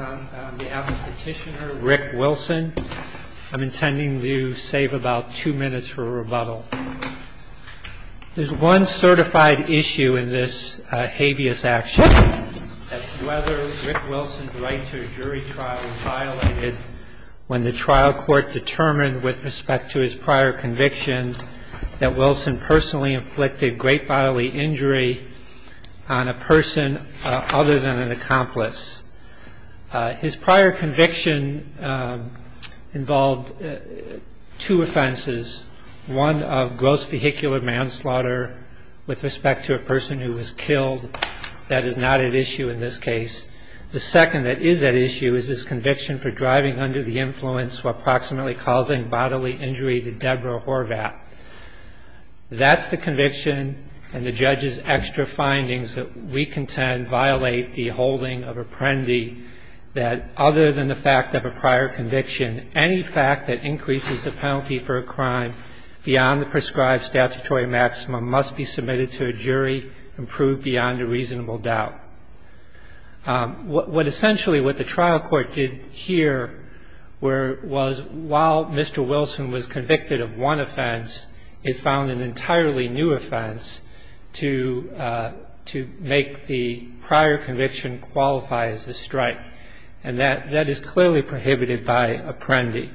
on behalf of Petitioner Rick Wilson. I'm intending to save about two minutes for a rebuttal. There's one certified issue in this habeas action, that's whether Rick Wilson's right to a jury trial was violated when the trial court determined with respect to his prior conviction that Wilson personally inflicted great bodily injury on a person other than an accomplice. His prior conviction involved two offenses, one of gross vehicular manslaughter with respect to a person who was killed. That is not at issue in this case. The second that is at issue is his conviction for driving under the influence while proximately causing bodily injury to Deborah Horvath. That's the conviction and the judge's extra findings that we contend violate the holding of apprendi that other than the fact of a prior conviction, any fact that increases the penalty for a crime beyond the prescribed statutory maximum must be submitted to a jury and proved beyond a reasonable doubt. What essentially what the trial court did here was while Mr. Wilson was convicted of one offense, it found an entirely new offense to make the prior conviction qualify as a strike. And that is clearly prohibited by apprendi.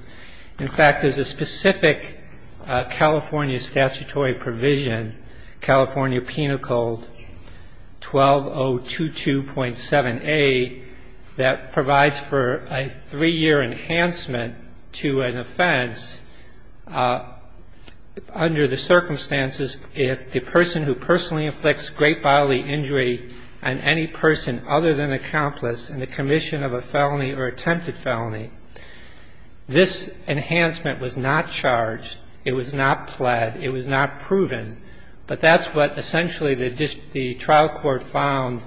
In fact, there's a specific California statutory provision, California Penal Code 12022.7a, that provides for a three-year enhancement to an offense under the circumstances if the person who personally inflicts great bodily injury on any person other than an accomplice in the commission of a felony or attempted felony. This enhancement was not charged. It was not pled. It was not proven. But that's what essentially the trial court found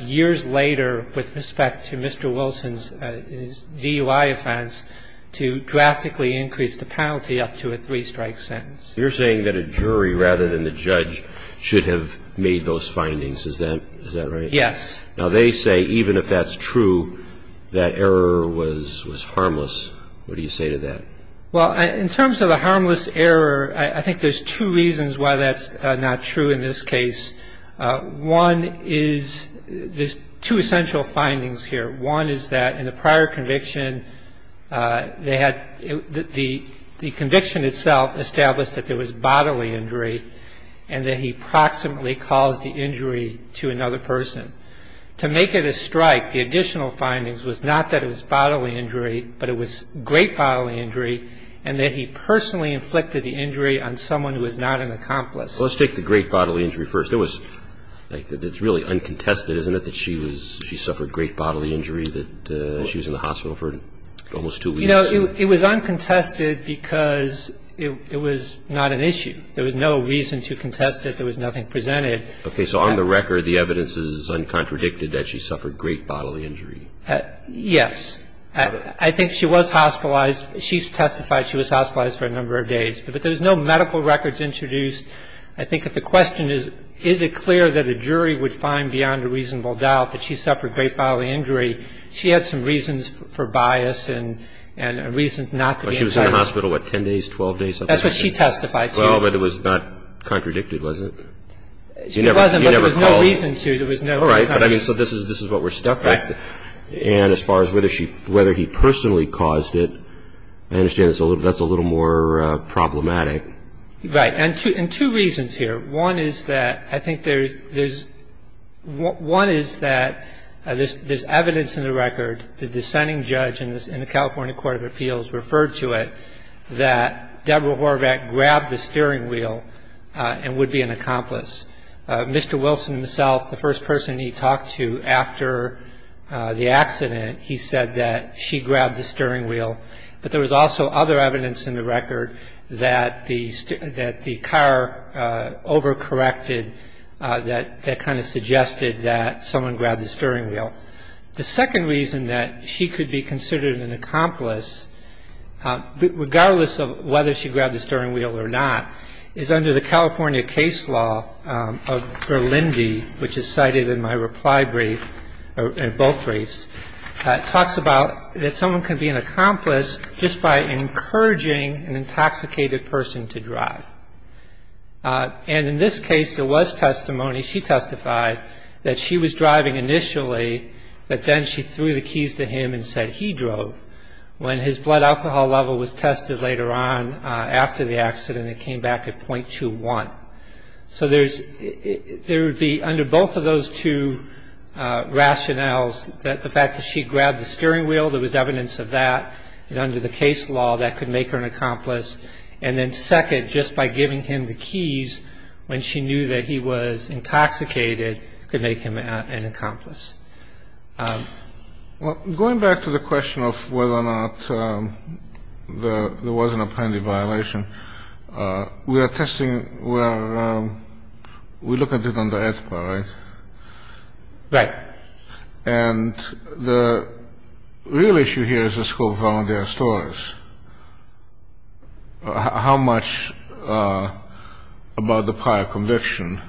years later with respect to Mr. Wilson's DUI offense to drastically increase the penalty up to a three-strike sentence. You're saying that a jury rather than the judge should have made those findings. Is that right? Yes. Now, they say even if that's true, that error was harmless. What do you say to that? Well, in terms of a harmless error, I think there's two reasons why that's not true in this case. One is there's two essential findings here. One is that in the prior conviction, they had the conviction itself established that there was bodily injury and that he proximately caused the injury to another person. To make it a strike, the additional findings was not that it was bodily injury, but it was great bodily injury and that he personally inflicted the injury on someone who was not an accomplice. Well, let's take the great bodily injury first. It's really uncontested, isn't it, that she suffered great bodily injury, that she was in the hospital for almost two weeks? You know, it was uncontested because it was not an issue. There was no reason to contest it. There was nothing presented. Okay. So on the record, the evidence is uncontradicted that she suffered great bodily injury. Yes. I think she was hospitalized. She testified she was hospitalized for a number of days. But there was no medical records introduced. I think if the question is, is it clear that a jury would find beyond a reasonable doubt that she suffered great bodily injury, she had some reasons for bias and reasons not to be entitled. Well, she was in the hospital, what, 10 days, 12 days? That's what she testified to. Well, but it was not contradicted, was it? She wasn't, but there was no reason to. All right. So this is what we're stuck with. Right. And as far as whether he personally caused it, I understand that's a little more problematic. Right. And two reasons here. One is that I think there's one is that there's evidence in the record, the dissenting judge in the California Court of Appeals referred to it, that Deborah Horvath grabbed the steering wheel and would be an accomplice. Mr. Wilson himself, the first person he talked to after the accident, he said that she grabbed the steering wheel. But there was also other evidence in the record that the car overcorrected, that that kind of suggested that someone grabbed the steering wheel. The second reason that she could be considered an accomplice, regardless of whether she grabbed the steering wheel or not, is under the California case law of Berlindi, which is cited in my reply brief, in both briefs, talks about that someone can be an accomplice just by encouraging an intoxicated person to drive. And in this case, there was testimony, she testified, that she was driving initially, but then she threw the keys to him and said he drove. When his blood alcohol level was tested later on after the accident, it came back at .21. So there would be, under both of those two rationales, the fact that she grabbed the steering wheel, there was evidence of that. And under the case law, that could make her an accomplice. And then second, just by giving him the keys when she knew that he was intoxicated could make him an accomplice. Well, going back to the question of whether or not there was an appended violation, we are testing where we look at it under AEDPA, right? Right. And the real issue here is the scope of volunteer stories. How much about the prior conviction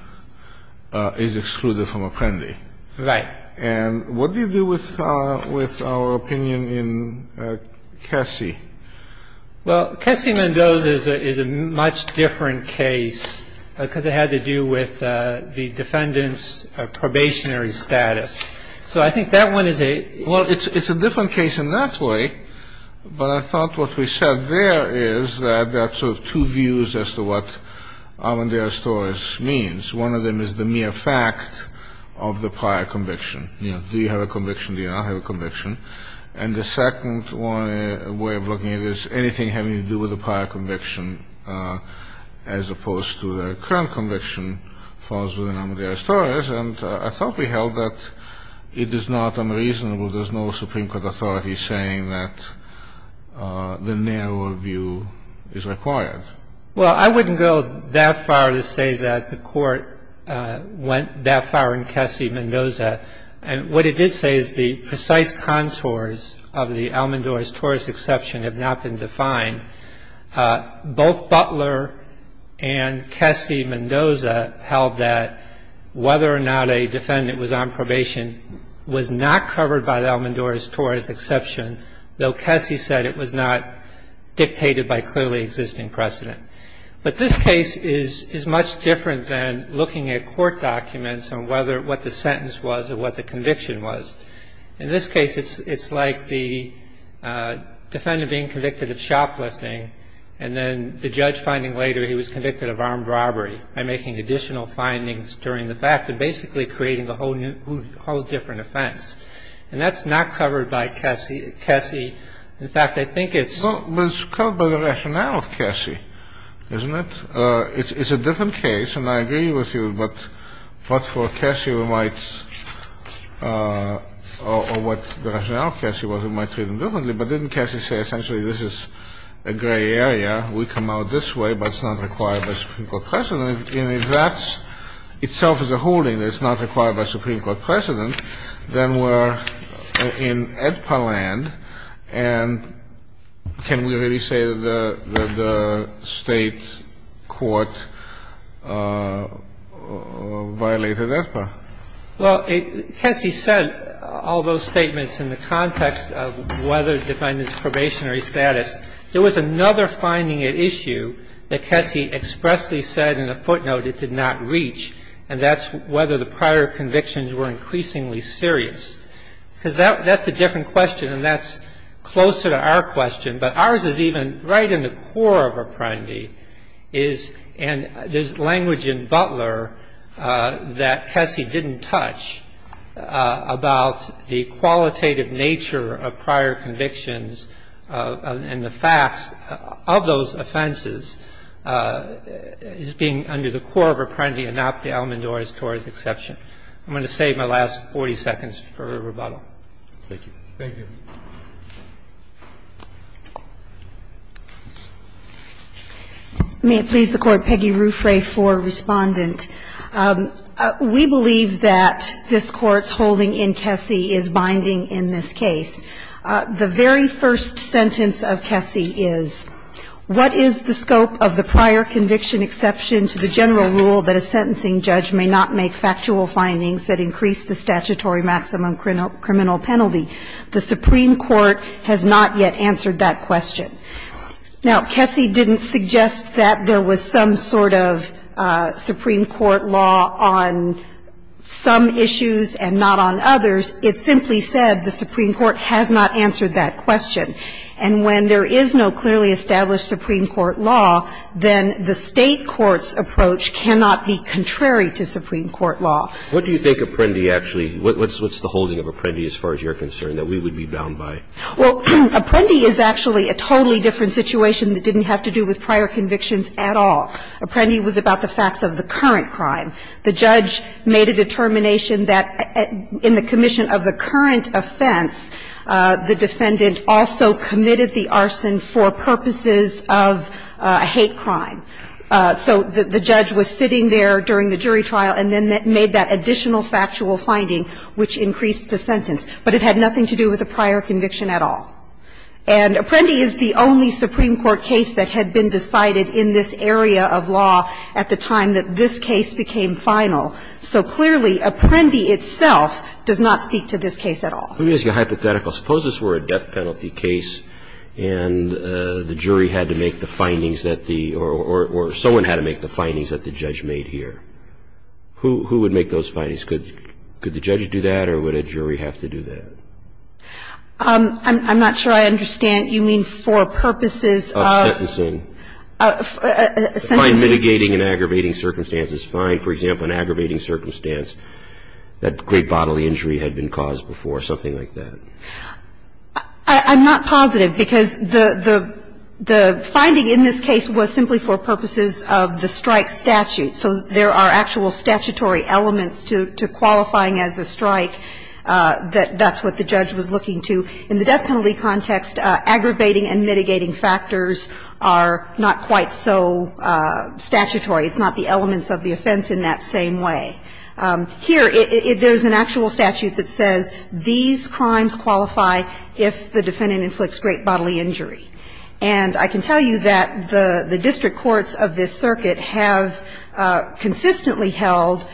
is excluded from appending? Right. And what do you do with our opinion in Cassie? Well, Cassie Mendoza is a much different case, because it had to do with the defendant's probationary status. So I think that one is a Well, it's a different case in that way, but I thought what we said there is that there are sort of two views as to what our story means. One of them is the mere fact of the prior conviction. Do you have a conviction? Do you not have a conviction? And the second way of looking at it is anything having to do with the prior conviction as opposed to the current conviction falls within our stories. And I thought we held that it is not unreasonable. There's no Supreme Court authority saying that the narrower view is required. Well, I wouldn't go that far to say that the Court went that far in Cassie Mendoza. What it did say is the precise contours of the Elmendorz-Torres exception have not been defined. Both Butler and Cassie Mendoza held that whether or not a defendant was on probation was not covered by the Elmendorz-Torres exception, though Cassie said it was not dictated by clearly existing precedent. But this case is much different than looking at court documents and what the sentence was or what the conviction was. In this case, it's like the defendant being convicted of shoplifting and then the judge finding later he was convicted of armed robbery by making additional findings during the fact and basically creating a whole different offense. And that's not covered by Cassie. In fact, I think it's – Well, it's covered by the rationale of Cassie, isn't it? It's a different case, and I agree with you. But for Cassie, we might – or what the rationale of Cassie was, we might treat him differently. But didn't Cassie say essentially this is a gray area, we come out this way, but it's not required by Supreme Court precedent? And if that itself is a holding that it's not required by Supreme Court precedent, then we're in EDPA land. And can we really say that the State court violated EDPA? Well, Cassie said all those statements in the context of whether the defendant's probationary status. There was another finding at issue that Cassie expressly said in a footnote it did not reach, and that's whether the prior convictions were increasingly serious. Because that's a different question, and that's closer to our question. But ours is even right in the core of Apprendi is – and there's language in Butler that Cassie didn't touch about the qualitative nature of prior convictions and the facts of those offenses as being under the core of Apprendi and not the Almendore-Torres exception. I'm going to save my last 40 seconds for rebuttal. Thank you. Thank you. May it please the Court. Peggy Ruffray for Respondent. We believe that this Court's holding in Cassie is binding in this case. The very first sentence of Cassie is, What is the scope of the prior conviction exception to the general rule that a sentencing judge may not make factual findings that increase the statutory maximum criminal penalty? The Supreme Court has not yet answered that question. Now, Cassie didn't suggest that there was some sort of Supreme Court law on some of the facts of the prior convictions. If there is a Supreme Court law, then the State court's approach cannot be contrary to Supreme Court law. What do you think Apprendi actually – what's the holding of Apprendi as far as you're concerned that we would be bound by? Well, Apprendi is actually a totally different situation that didn't have to do with prior convictions at all. Apprendi was about the facts of the current crime. The judge made a determination that in the commission of the current offense, the defendant also committed the arson for purposes of a hate crime. So the judge was sitting there during the jury trial and then made that additional factual finding, which increased the sentence. But it had nothing to do with the prior conviction at all. And Apprendi is the only Supreme Court case that had been decided in this area of law at the time that this case became final. So clearly Apprendi itself does not speak to this case at all. Let me ask you a hypothetical. Suppose this were a death penalty case and the jury had to make the findings that the – or someone had to make the findings that the judge made here. Who would make those findings? Could the judge do that or would a jury have to do that? I'm not sure I understand. You mean for purposes of – Of sentencing. By mitigating and aggravating circumstances. Find, for example, an aggravating circumstance that great bodily injury had been caused before, something like that. I'm not positive because the finding in this case was simply for purposes of the strike statute. So there are actual statutory elements to qualifying as a strike that that's what the judge was looking to. In the death penalty context, aggravating and mitigating factors are not quite so statutory. It's not the elements of the offense in that same way. Here, there's an actual statute that says these crimes qualify if the defendant inflicts great bodily injury. And I can tell you that the district courts of this circuit have consistently held,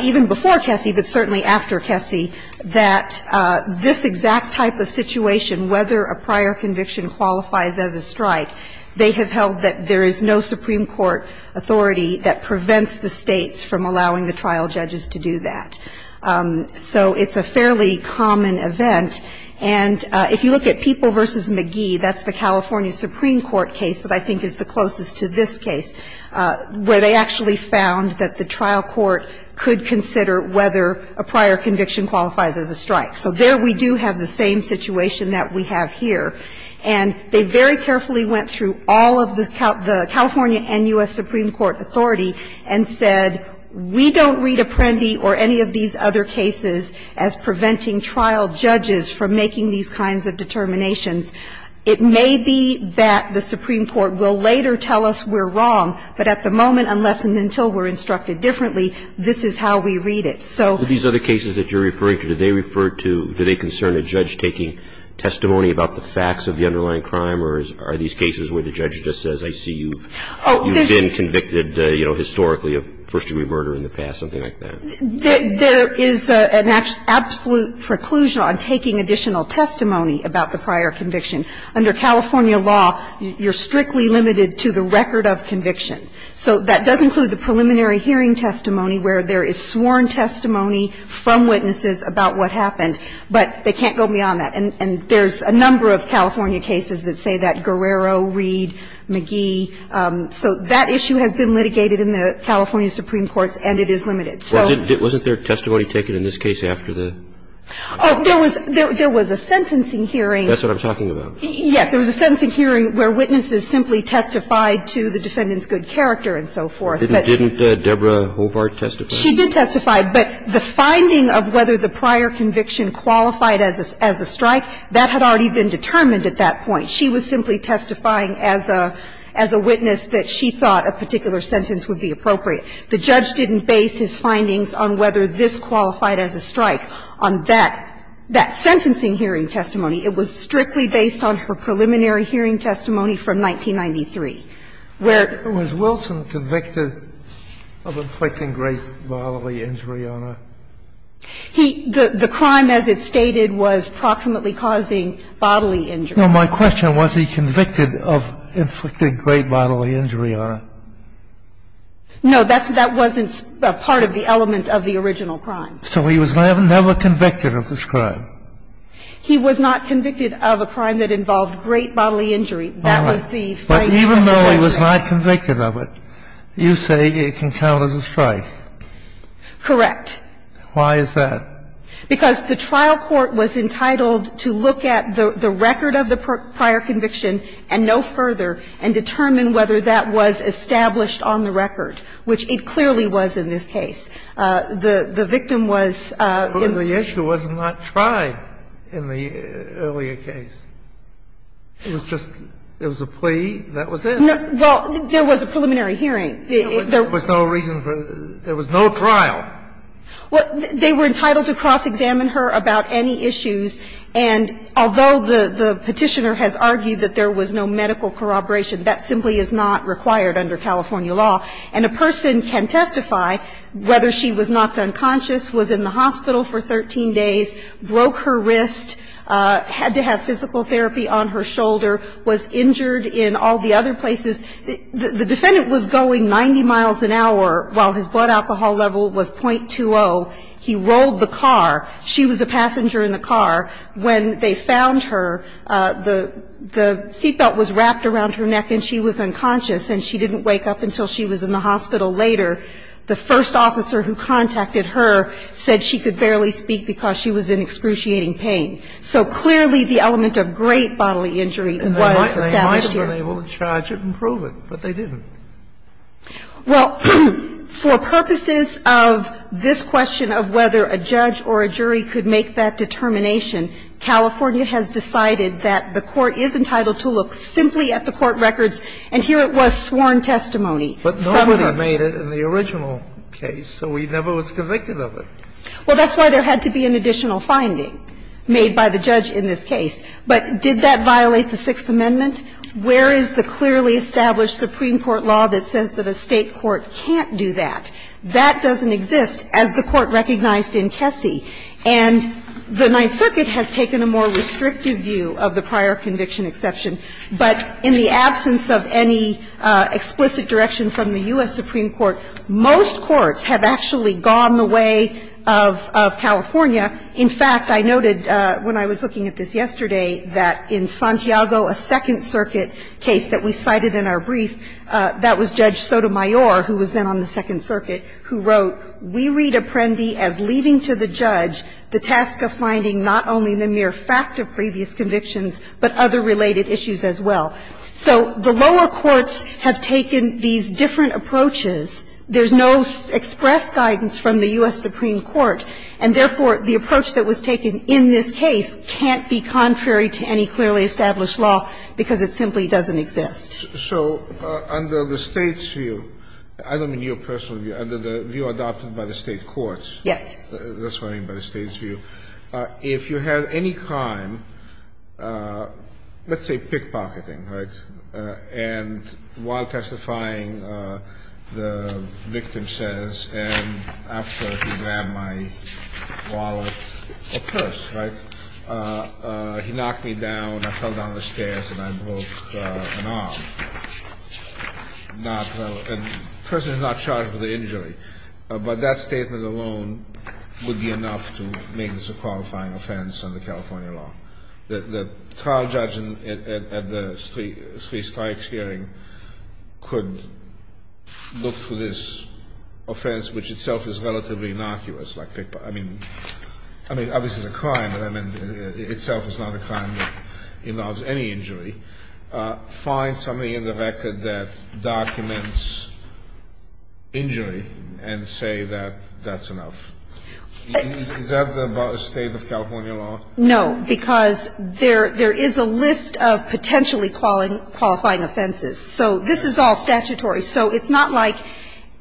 even before Kessy, but certainly after Kessy, that this exact type of situation, whether a prior conviction qualifies as a strike, they have held that there is no Supreme Court authority that prevents the States from allowing the trial judges to do that. So it's a fairly common event. And if you look at People v. McGee, that's the California Supreme Court case that I think is the closest to this case, where they actually found that the trial court could consider whether a prior conviction qualifies as a strike. So there we do have the same situation that we have here. And they very carefully went through all of the California and U.S. Supreme Court authority and said, we don't read Apprendi or any of these other cases as preventing trial judges from making these kinds of determinations. It may be that the Supreme Court will later tell us we're wrong, but at the moment, unless and until we're instructed differently, this is how we read it. So these other cases that you're referring to, do they refer to, do they concern a judge taking testimony about the facts of the underlying crime, or are these cases where the judge just says, I see you've been convicted, you know, historically of first-degree murder in the past, something like that? There is an absolute preclusion on taking additional testimony about the prior conviction. Under California law, you're strictly limited to the record of conviction. So that does include the preliminary hearing testimony, where there is sworn testimony from witnesses about what happened. But they can't go beyond that. And there's a number of California cases that say that. Guerrero, Reed, McGee. So that issue has been litigated in the California Supreme Courts, and it is limited. So wasn't there testimony taken in this case after the? Oh, there was a sentencing hearing. That's what I'm talking about. Yes. There was a sentencing hearing where witnesses simply testified to the defendant's good character and so forth, but. Didn't Deborah Hobart testify? She did testify. But the finding of whether the prior conviction qualified as a strike, that had already been determined at that point. She was simply testifying as a witness that she thought a particular sentence would be appropriate. The judge didn't base his findings on whether this qualified as a strike. On that, that sentencing hearing testimony, it was strictly based on her preliminary hearing testimony from 1993, where. Was Wilson convicted of inflicting great bodily injury on her? He – the crime, as it stated, was proximately causing bodily injury. No, my question, was he convicted of inflicting great bodily injury on her? No, that's – that wasn't a part of the element of the original crime. So he was never convicted of this crime? He was not convicted of a crime that involved great bodily injury. That was the phrase of the conviction. All right. But even though he was not convicted of it, you say it can count as a strike? Correct. Why is that? Because the trial court was entitled to look at the record of the prior conviction and no further, and determine whether that was established on the record, which it clearly was in this case. The victim was – But the issue was not tried in the earlier case. It was just – it was a plea. That was it. No. Well, there was a preliminary hearing. There was no reason for – there was no trial. Well, they were entitled to cross-examine her about any issues. And although the Petitioner has argued that there was no medical corroboration, that simply is not required under California law. And a person can testify whether she was knocked unconscious, was in the hospital for 13 days, broke her wrist, had to have physical therapy on her shoulder, was injured in all the other places. The defendant was going 90 miles an hour while his blood alcohol level was .20. He rolled the car. She was a passenger in the car. When they found her, the seat belt was wrapped around her neck and she was unconscious and she didn't wake up until she was in the hospital later. The first officer who contacted her said she could barely speak because she was in excruciating pain. So clearly the element of great bodily injury was established here. And they might have been able to charge it and prove it, but they didn't. Well, for purposes of this question of whether a judge or a jury could make that determination, California has decided that the Court is entitled to look simply at the court records and here it was sworn testimony. But nobody made it in the original case, so we never was convicted of it. Well, that's why there had to be an additional finding made by the judge in this case. But did that violate the Sixth Amendment? Where is the clearly established Supreme Court law that says that a State court can't do that? That doesn't exist, as the Court recognized in Kessy. And the Ninth Circuit has taken a more restrictive view of the prior conviction exception, but in the absence of any explicit direction from the U.S. Supreme Court, most courts have actually gone the way of California. In fact, I noted when I was looking at this yesterday that in Santiago, a Second Circuit case that we cited in our brief, that was Judge Sotomayor, who was then on the Second Circuit, who wrote, We read Apprendi as leaving to the judge the task of finding not only the mere fact of previous convictions, but other related issues as well. So the lower courts have taken these different approaches. There's no express guidance from the U.S. Supreme Court, and therefore, the approach that was taken in this case can't be contrary to any clearly established law, because it simply doesn't exist. So under the State's view, I don't mean your personal view, under the view adopted by the State courts. Yes. That's what I mean by the State's view. If you have any crime, let's say pickpocketing, right, and while testifying, the victim says, and after he grabbed my wallet or purse, right, he knocked me down, I fell down the stairs, and I broke an arm. Not the person is not charged with the injury, but that statement alone would be enough to make this a qualifying offense under California law. The trial judge at the three strikes hearing could look through this offense, which itself is relatively innocuous, like pickpocketing. I mean, obviously it's a crime, but, I mean, it itself is not a crime that involves any injury, find something in the record that documents injury and say that that's enough. Is that about the State of California law? No, because there is a list of potentially qualifying offenses. So this is all statutory. So it's not like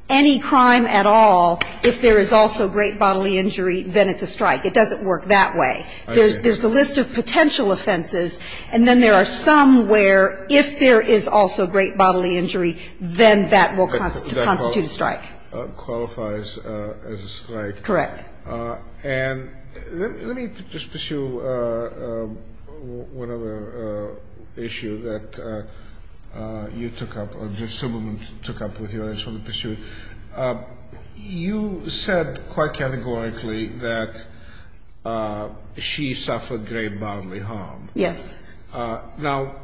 any crime at all, if there is also great bodily injury, then it's a strike. It doesn't work that way. There's the list of potential offenses, and then there are some where if there is also great bodily injury, then that will constitute a strike. Qualifies as a strike. Correct. And let me just pursue one other issue that you took up, or Ms. Zimmerman took up with you, and I just want to pursue it. You said quite categorically that she suffered great bodily harm. Yes. Now,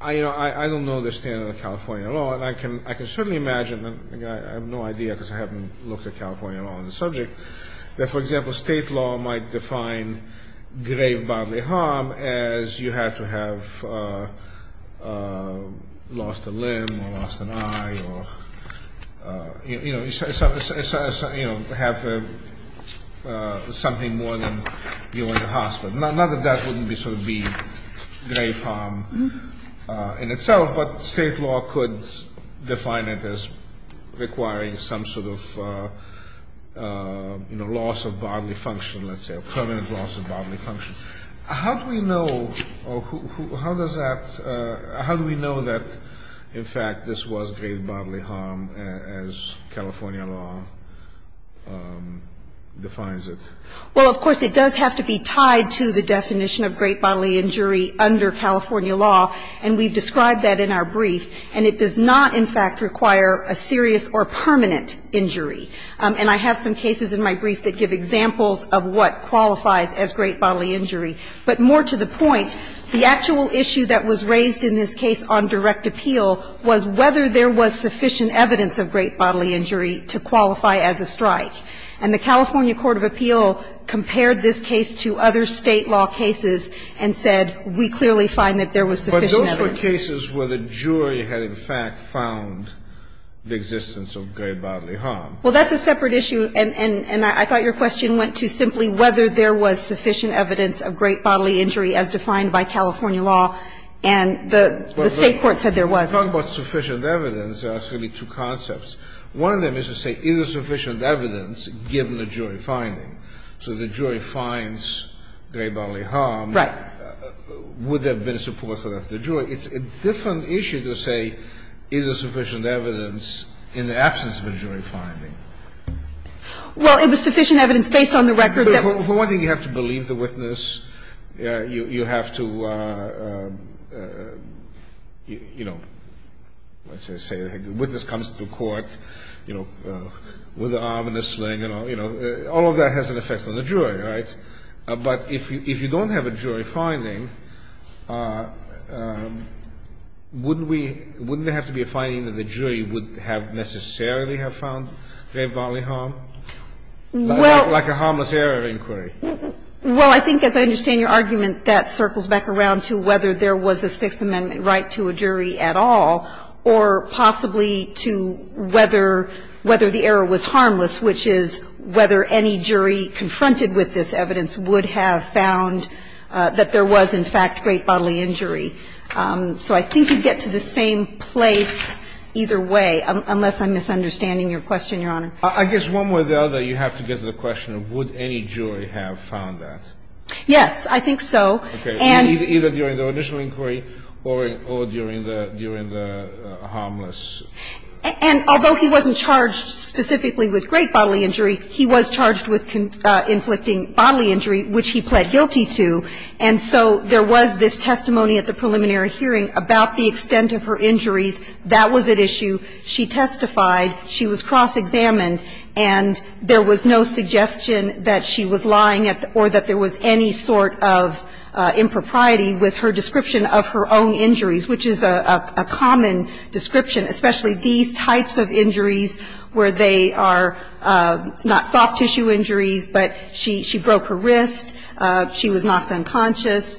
I don't know the standard of California law, and I can certainly imagine and I have no idea because I haven't looked at California law on the subject, that, for example, State law might define great bodily harm as you had to have lost a limb or lost an eye or, you know, have something more than you went to hospital. Not that that wouldn't be sort of be great harm in itself, but State law could define it as requiring some sort of, you know, loss of bodily function, let's say, or permanent loss of bodily function. How do we know, or how does that, how do we know that, in fact, this was great bodily harm as California law defines it? Well, of course, it does have to be tied to the definition of great bodily injury under California law, and we've described that in our brief, and it does not, in fact, require a serious or permanent injury. And I have some cases in my brief that give examples of what qualifies as great bodily injury. But more to the point, the actual issue that was raised in this case on direct appeal was whether there was sufficient evidence of great bodily injury to qualify as a strike. And the California court of appeal compared this case to other State law cases and said, we clearly find that there was sufficient evidence. But those were cases where the jury had, in fact, found the existence of great bodily harm. Well, that's a separate issue, and I thought your question went to simply whether there was sufficient evidence of great bodily injury as defined by California law, and the State court said there was. But when you talk about sufficient evidence, there are actually two concepts. One of them is to say, is there sufficient evidence given the jury finding? So if the jury finds great bodily harm, would there have been a support for the jury? It's a different issue to say, is there sufficient evidence in the absence of a jury finding? Well, if there's sufficient evidence based on the record that's the case. But for one thing, you have to believe the witness. You have to, you know, let's just say the witness comes to court. You know, with an arm and a sling, you know, all of that has an effect on the jury, right? But if you don't have a jury finding, wouldn't we – wouldn't there have to be a finding that the jury would have necessarily have found great bodily harm? Like a harmless error inquiry. Well, I think, as I understand your argument, that circles back around to whether there was a Sixth Amendment right to a jury at all, or possibly to whether the error was harmless, which is whether any jury confronted with this evidence would have found that there was, in fact, great bodily injury. So I think you'd get to the same place either way, unless I'm misunderstanding your question, Your Honor. I guess one way or the other, you have to get to the question of would any jury have found that. Yes, I think so. Okay. Either during the original inquiry or during the harmless. And although he wasn't charged specifically with great bodily injury, he was charged with inflicting bodily injury, which he pled guilty to. And so there was this testimony at the preliminary hearing about the extent of her injuries. That was at issue. She testified. She was cross-examined. And there was no suggestion that she was lying or that there was any sort of, you know, impropriety with her description of her own injuries, which is a common description, especially these types of injuries where they are not soft-tissue injuries, but she broke her wrist, she was knocked unconscious,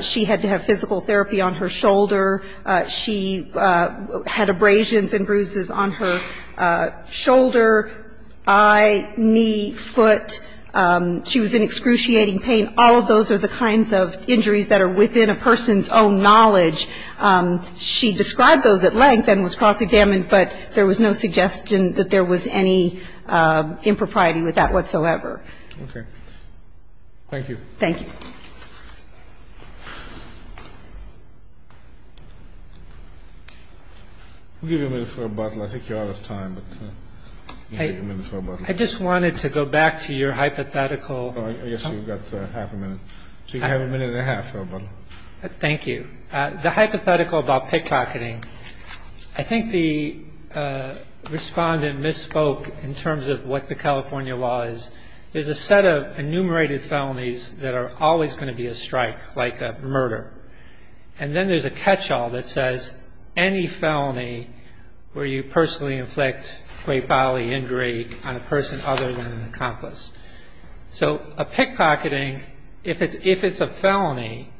she had to have physical therapy on her shoulder, she had abrasions and bruises on her shoulder, eye, knee, foot, she was in excruciating pain. All of those are the kinds of injuries that are within a person's own knowledge. She described those at length and was cross-examined, but there was no suggestion that there was any impropriety with that whatsoever. Okay. Thank you. Thank you. I'll give you a minute for rebuttal. I think you're out of time, but I'll give you a minute for rebuttal. I just wanted to go back to your hypothetical. I guess you've got half a minute. So you have a minute and a half for rebuttal. Thank you. The hypothetical about pickpocketing, I think the respondent misspoke in terms of what the California law is. There's a set of enumerated felonies that are always going to be a strike, like a murder, and then there's a catch-all that says any felony where you personally inflict great bodily injury on a person other than an accomplice. So a pickpocketing, if it's a felony,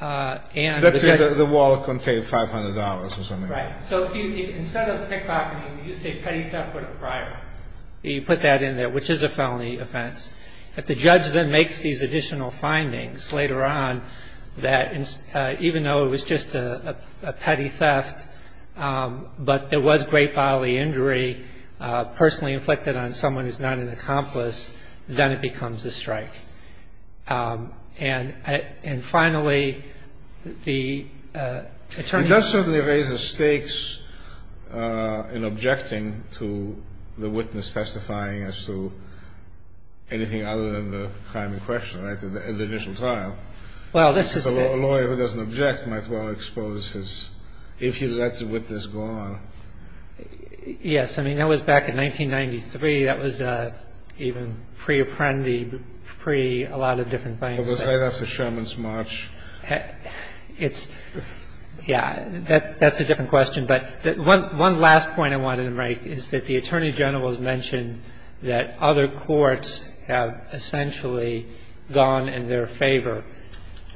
and the judge- Let's say the wallet contained $500 or something like that. Right. So instead of pickpocketing, you say petty theft with a bribe. You put that in there, which is a felony offense. If the judge then makes these additional findings later on that even though it was just a petty theft, but there was great bodily injury personally inflicted on someone who's not an accomplice, then it becomes a strike. And finally, the attorney- It does certainly raise the stakes in objecting to the witness testifying as to anything other than the crime in question, right, the initial trial. Well, this is- A lawyer who doesn't object might well expose his- if he lets a witness go on. Yes. I mean, that was back in 1993. That was even pre-Apprendi, pre-a lot of different things. It was right after Sherman's March. It's, yeah, that's a different question. But one last point I wanted to make is that the Attorney General has mentioned that other courts have essentially gone in their favor.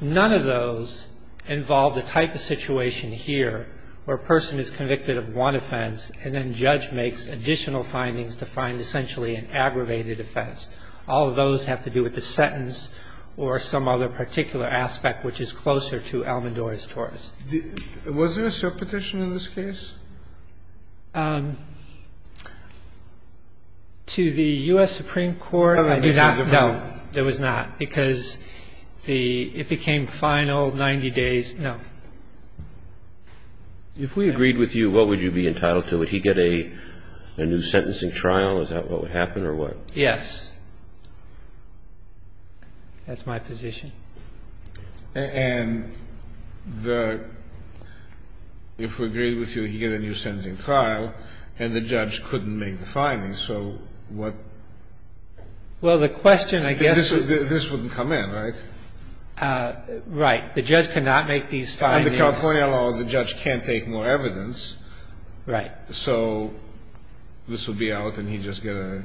None of those involve the type of situation here where a person is convicted of one offense and then judge makes additional findings to find essentially an aggravated offense. All of those have to do with the sentence or some other particular aspect which is closer to Almodovar's torts. Was there a subpetition in this case? To the U.S. Supreme Court, I do not know. There was not, because it became final, 90 days, no. If we agreed with you, what would you be entitled to? Would he get a new sentencing trial? Is that what would happen or what? Yes. That's my position. And the – if we agreed with you, he'd get a new sentencing trial, and the judge couldn't make the findings. So what- Well, the question, I guess- This wouldn't come in, right? Right. The judge cannot make these findings. Under California law, the judge can't take more evidence. Right. So this would be out and he'd just get a-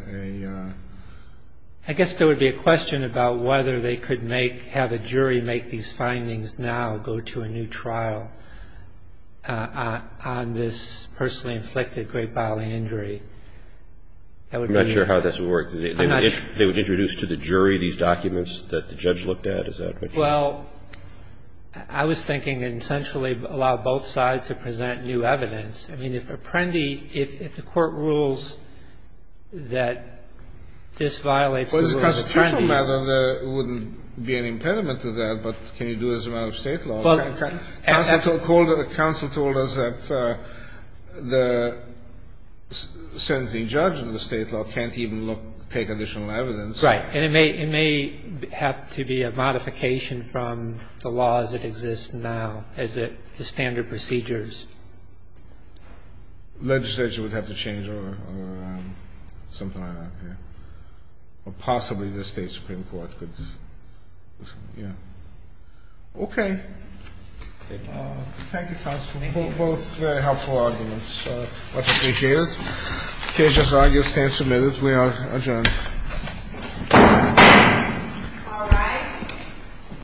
I guess there would be a question about whether they could make – have a jury make these findings now go to a new trial on this personally inflicted great bodily injury. I'm not sure how this would work. If they would introduce to the jury these documents that the judge looked at, is that what you- Well, I was thinking essentially allow both sides to present new evidence. I mean, if Apprendi – if the court rules that this violates the rules of Apprendi- Well, as a constitutional matter, there wouldn't be an impediment to that, but can you do it as a matter of state law? Well, and- Counsel told us that the sentencing judge in the state law can't even look at these documents and take additional evidence. Right. And it may have to be a modification from the laws that exist now as the standard procedures. Legislature would have to change or something like that, yeah, or possibly the state supreme court could, yeah. Okay. Thank you, counsel. Both very helpful arguments. Much appreciated. The case is argued, stand submitted. We are adjourned. All rise.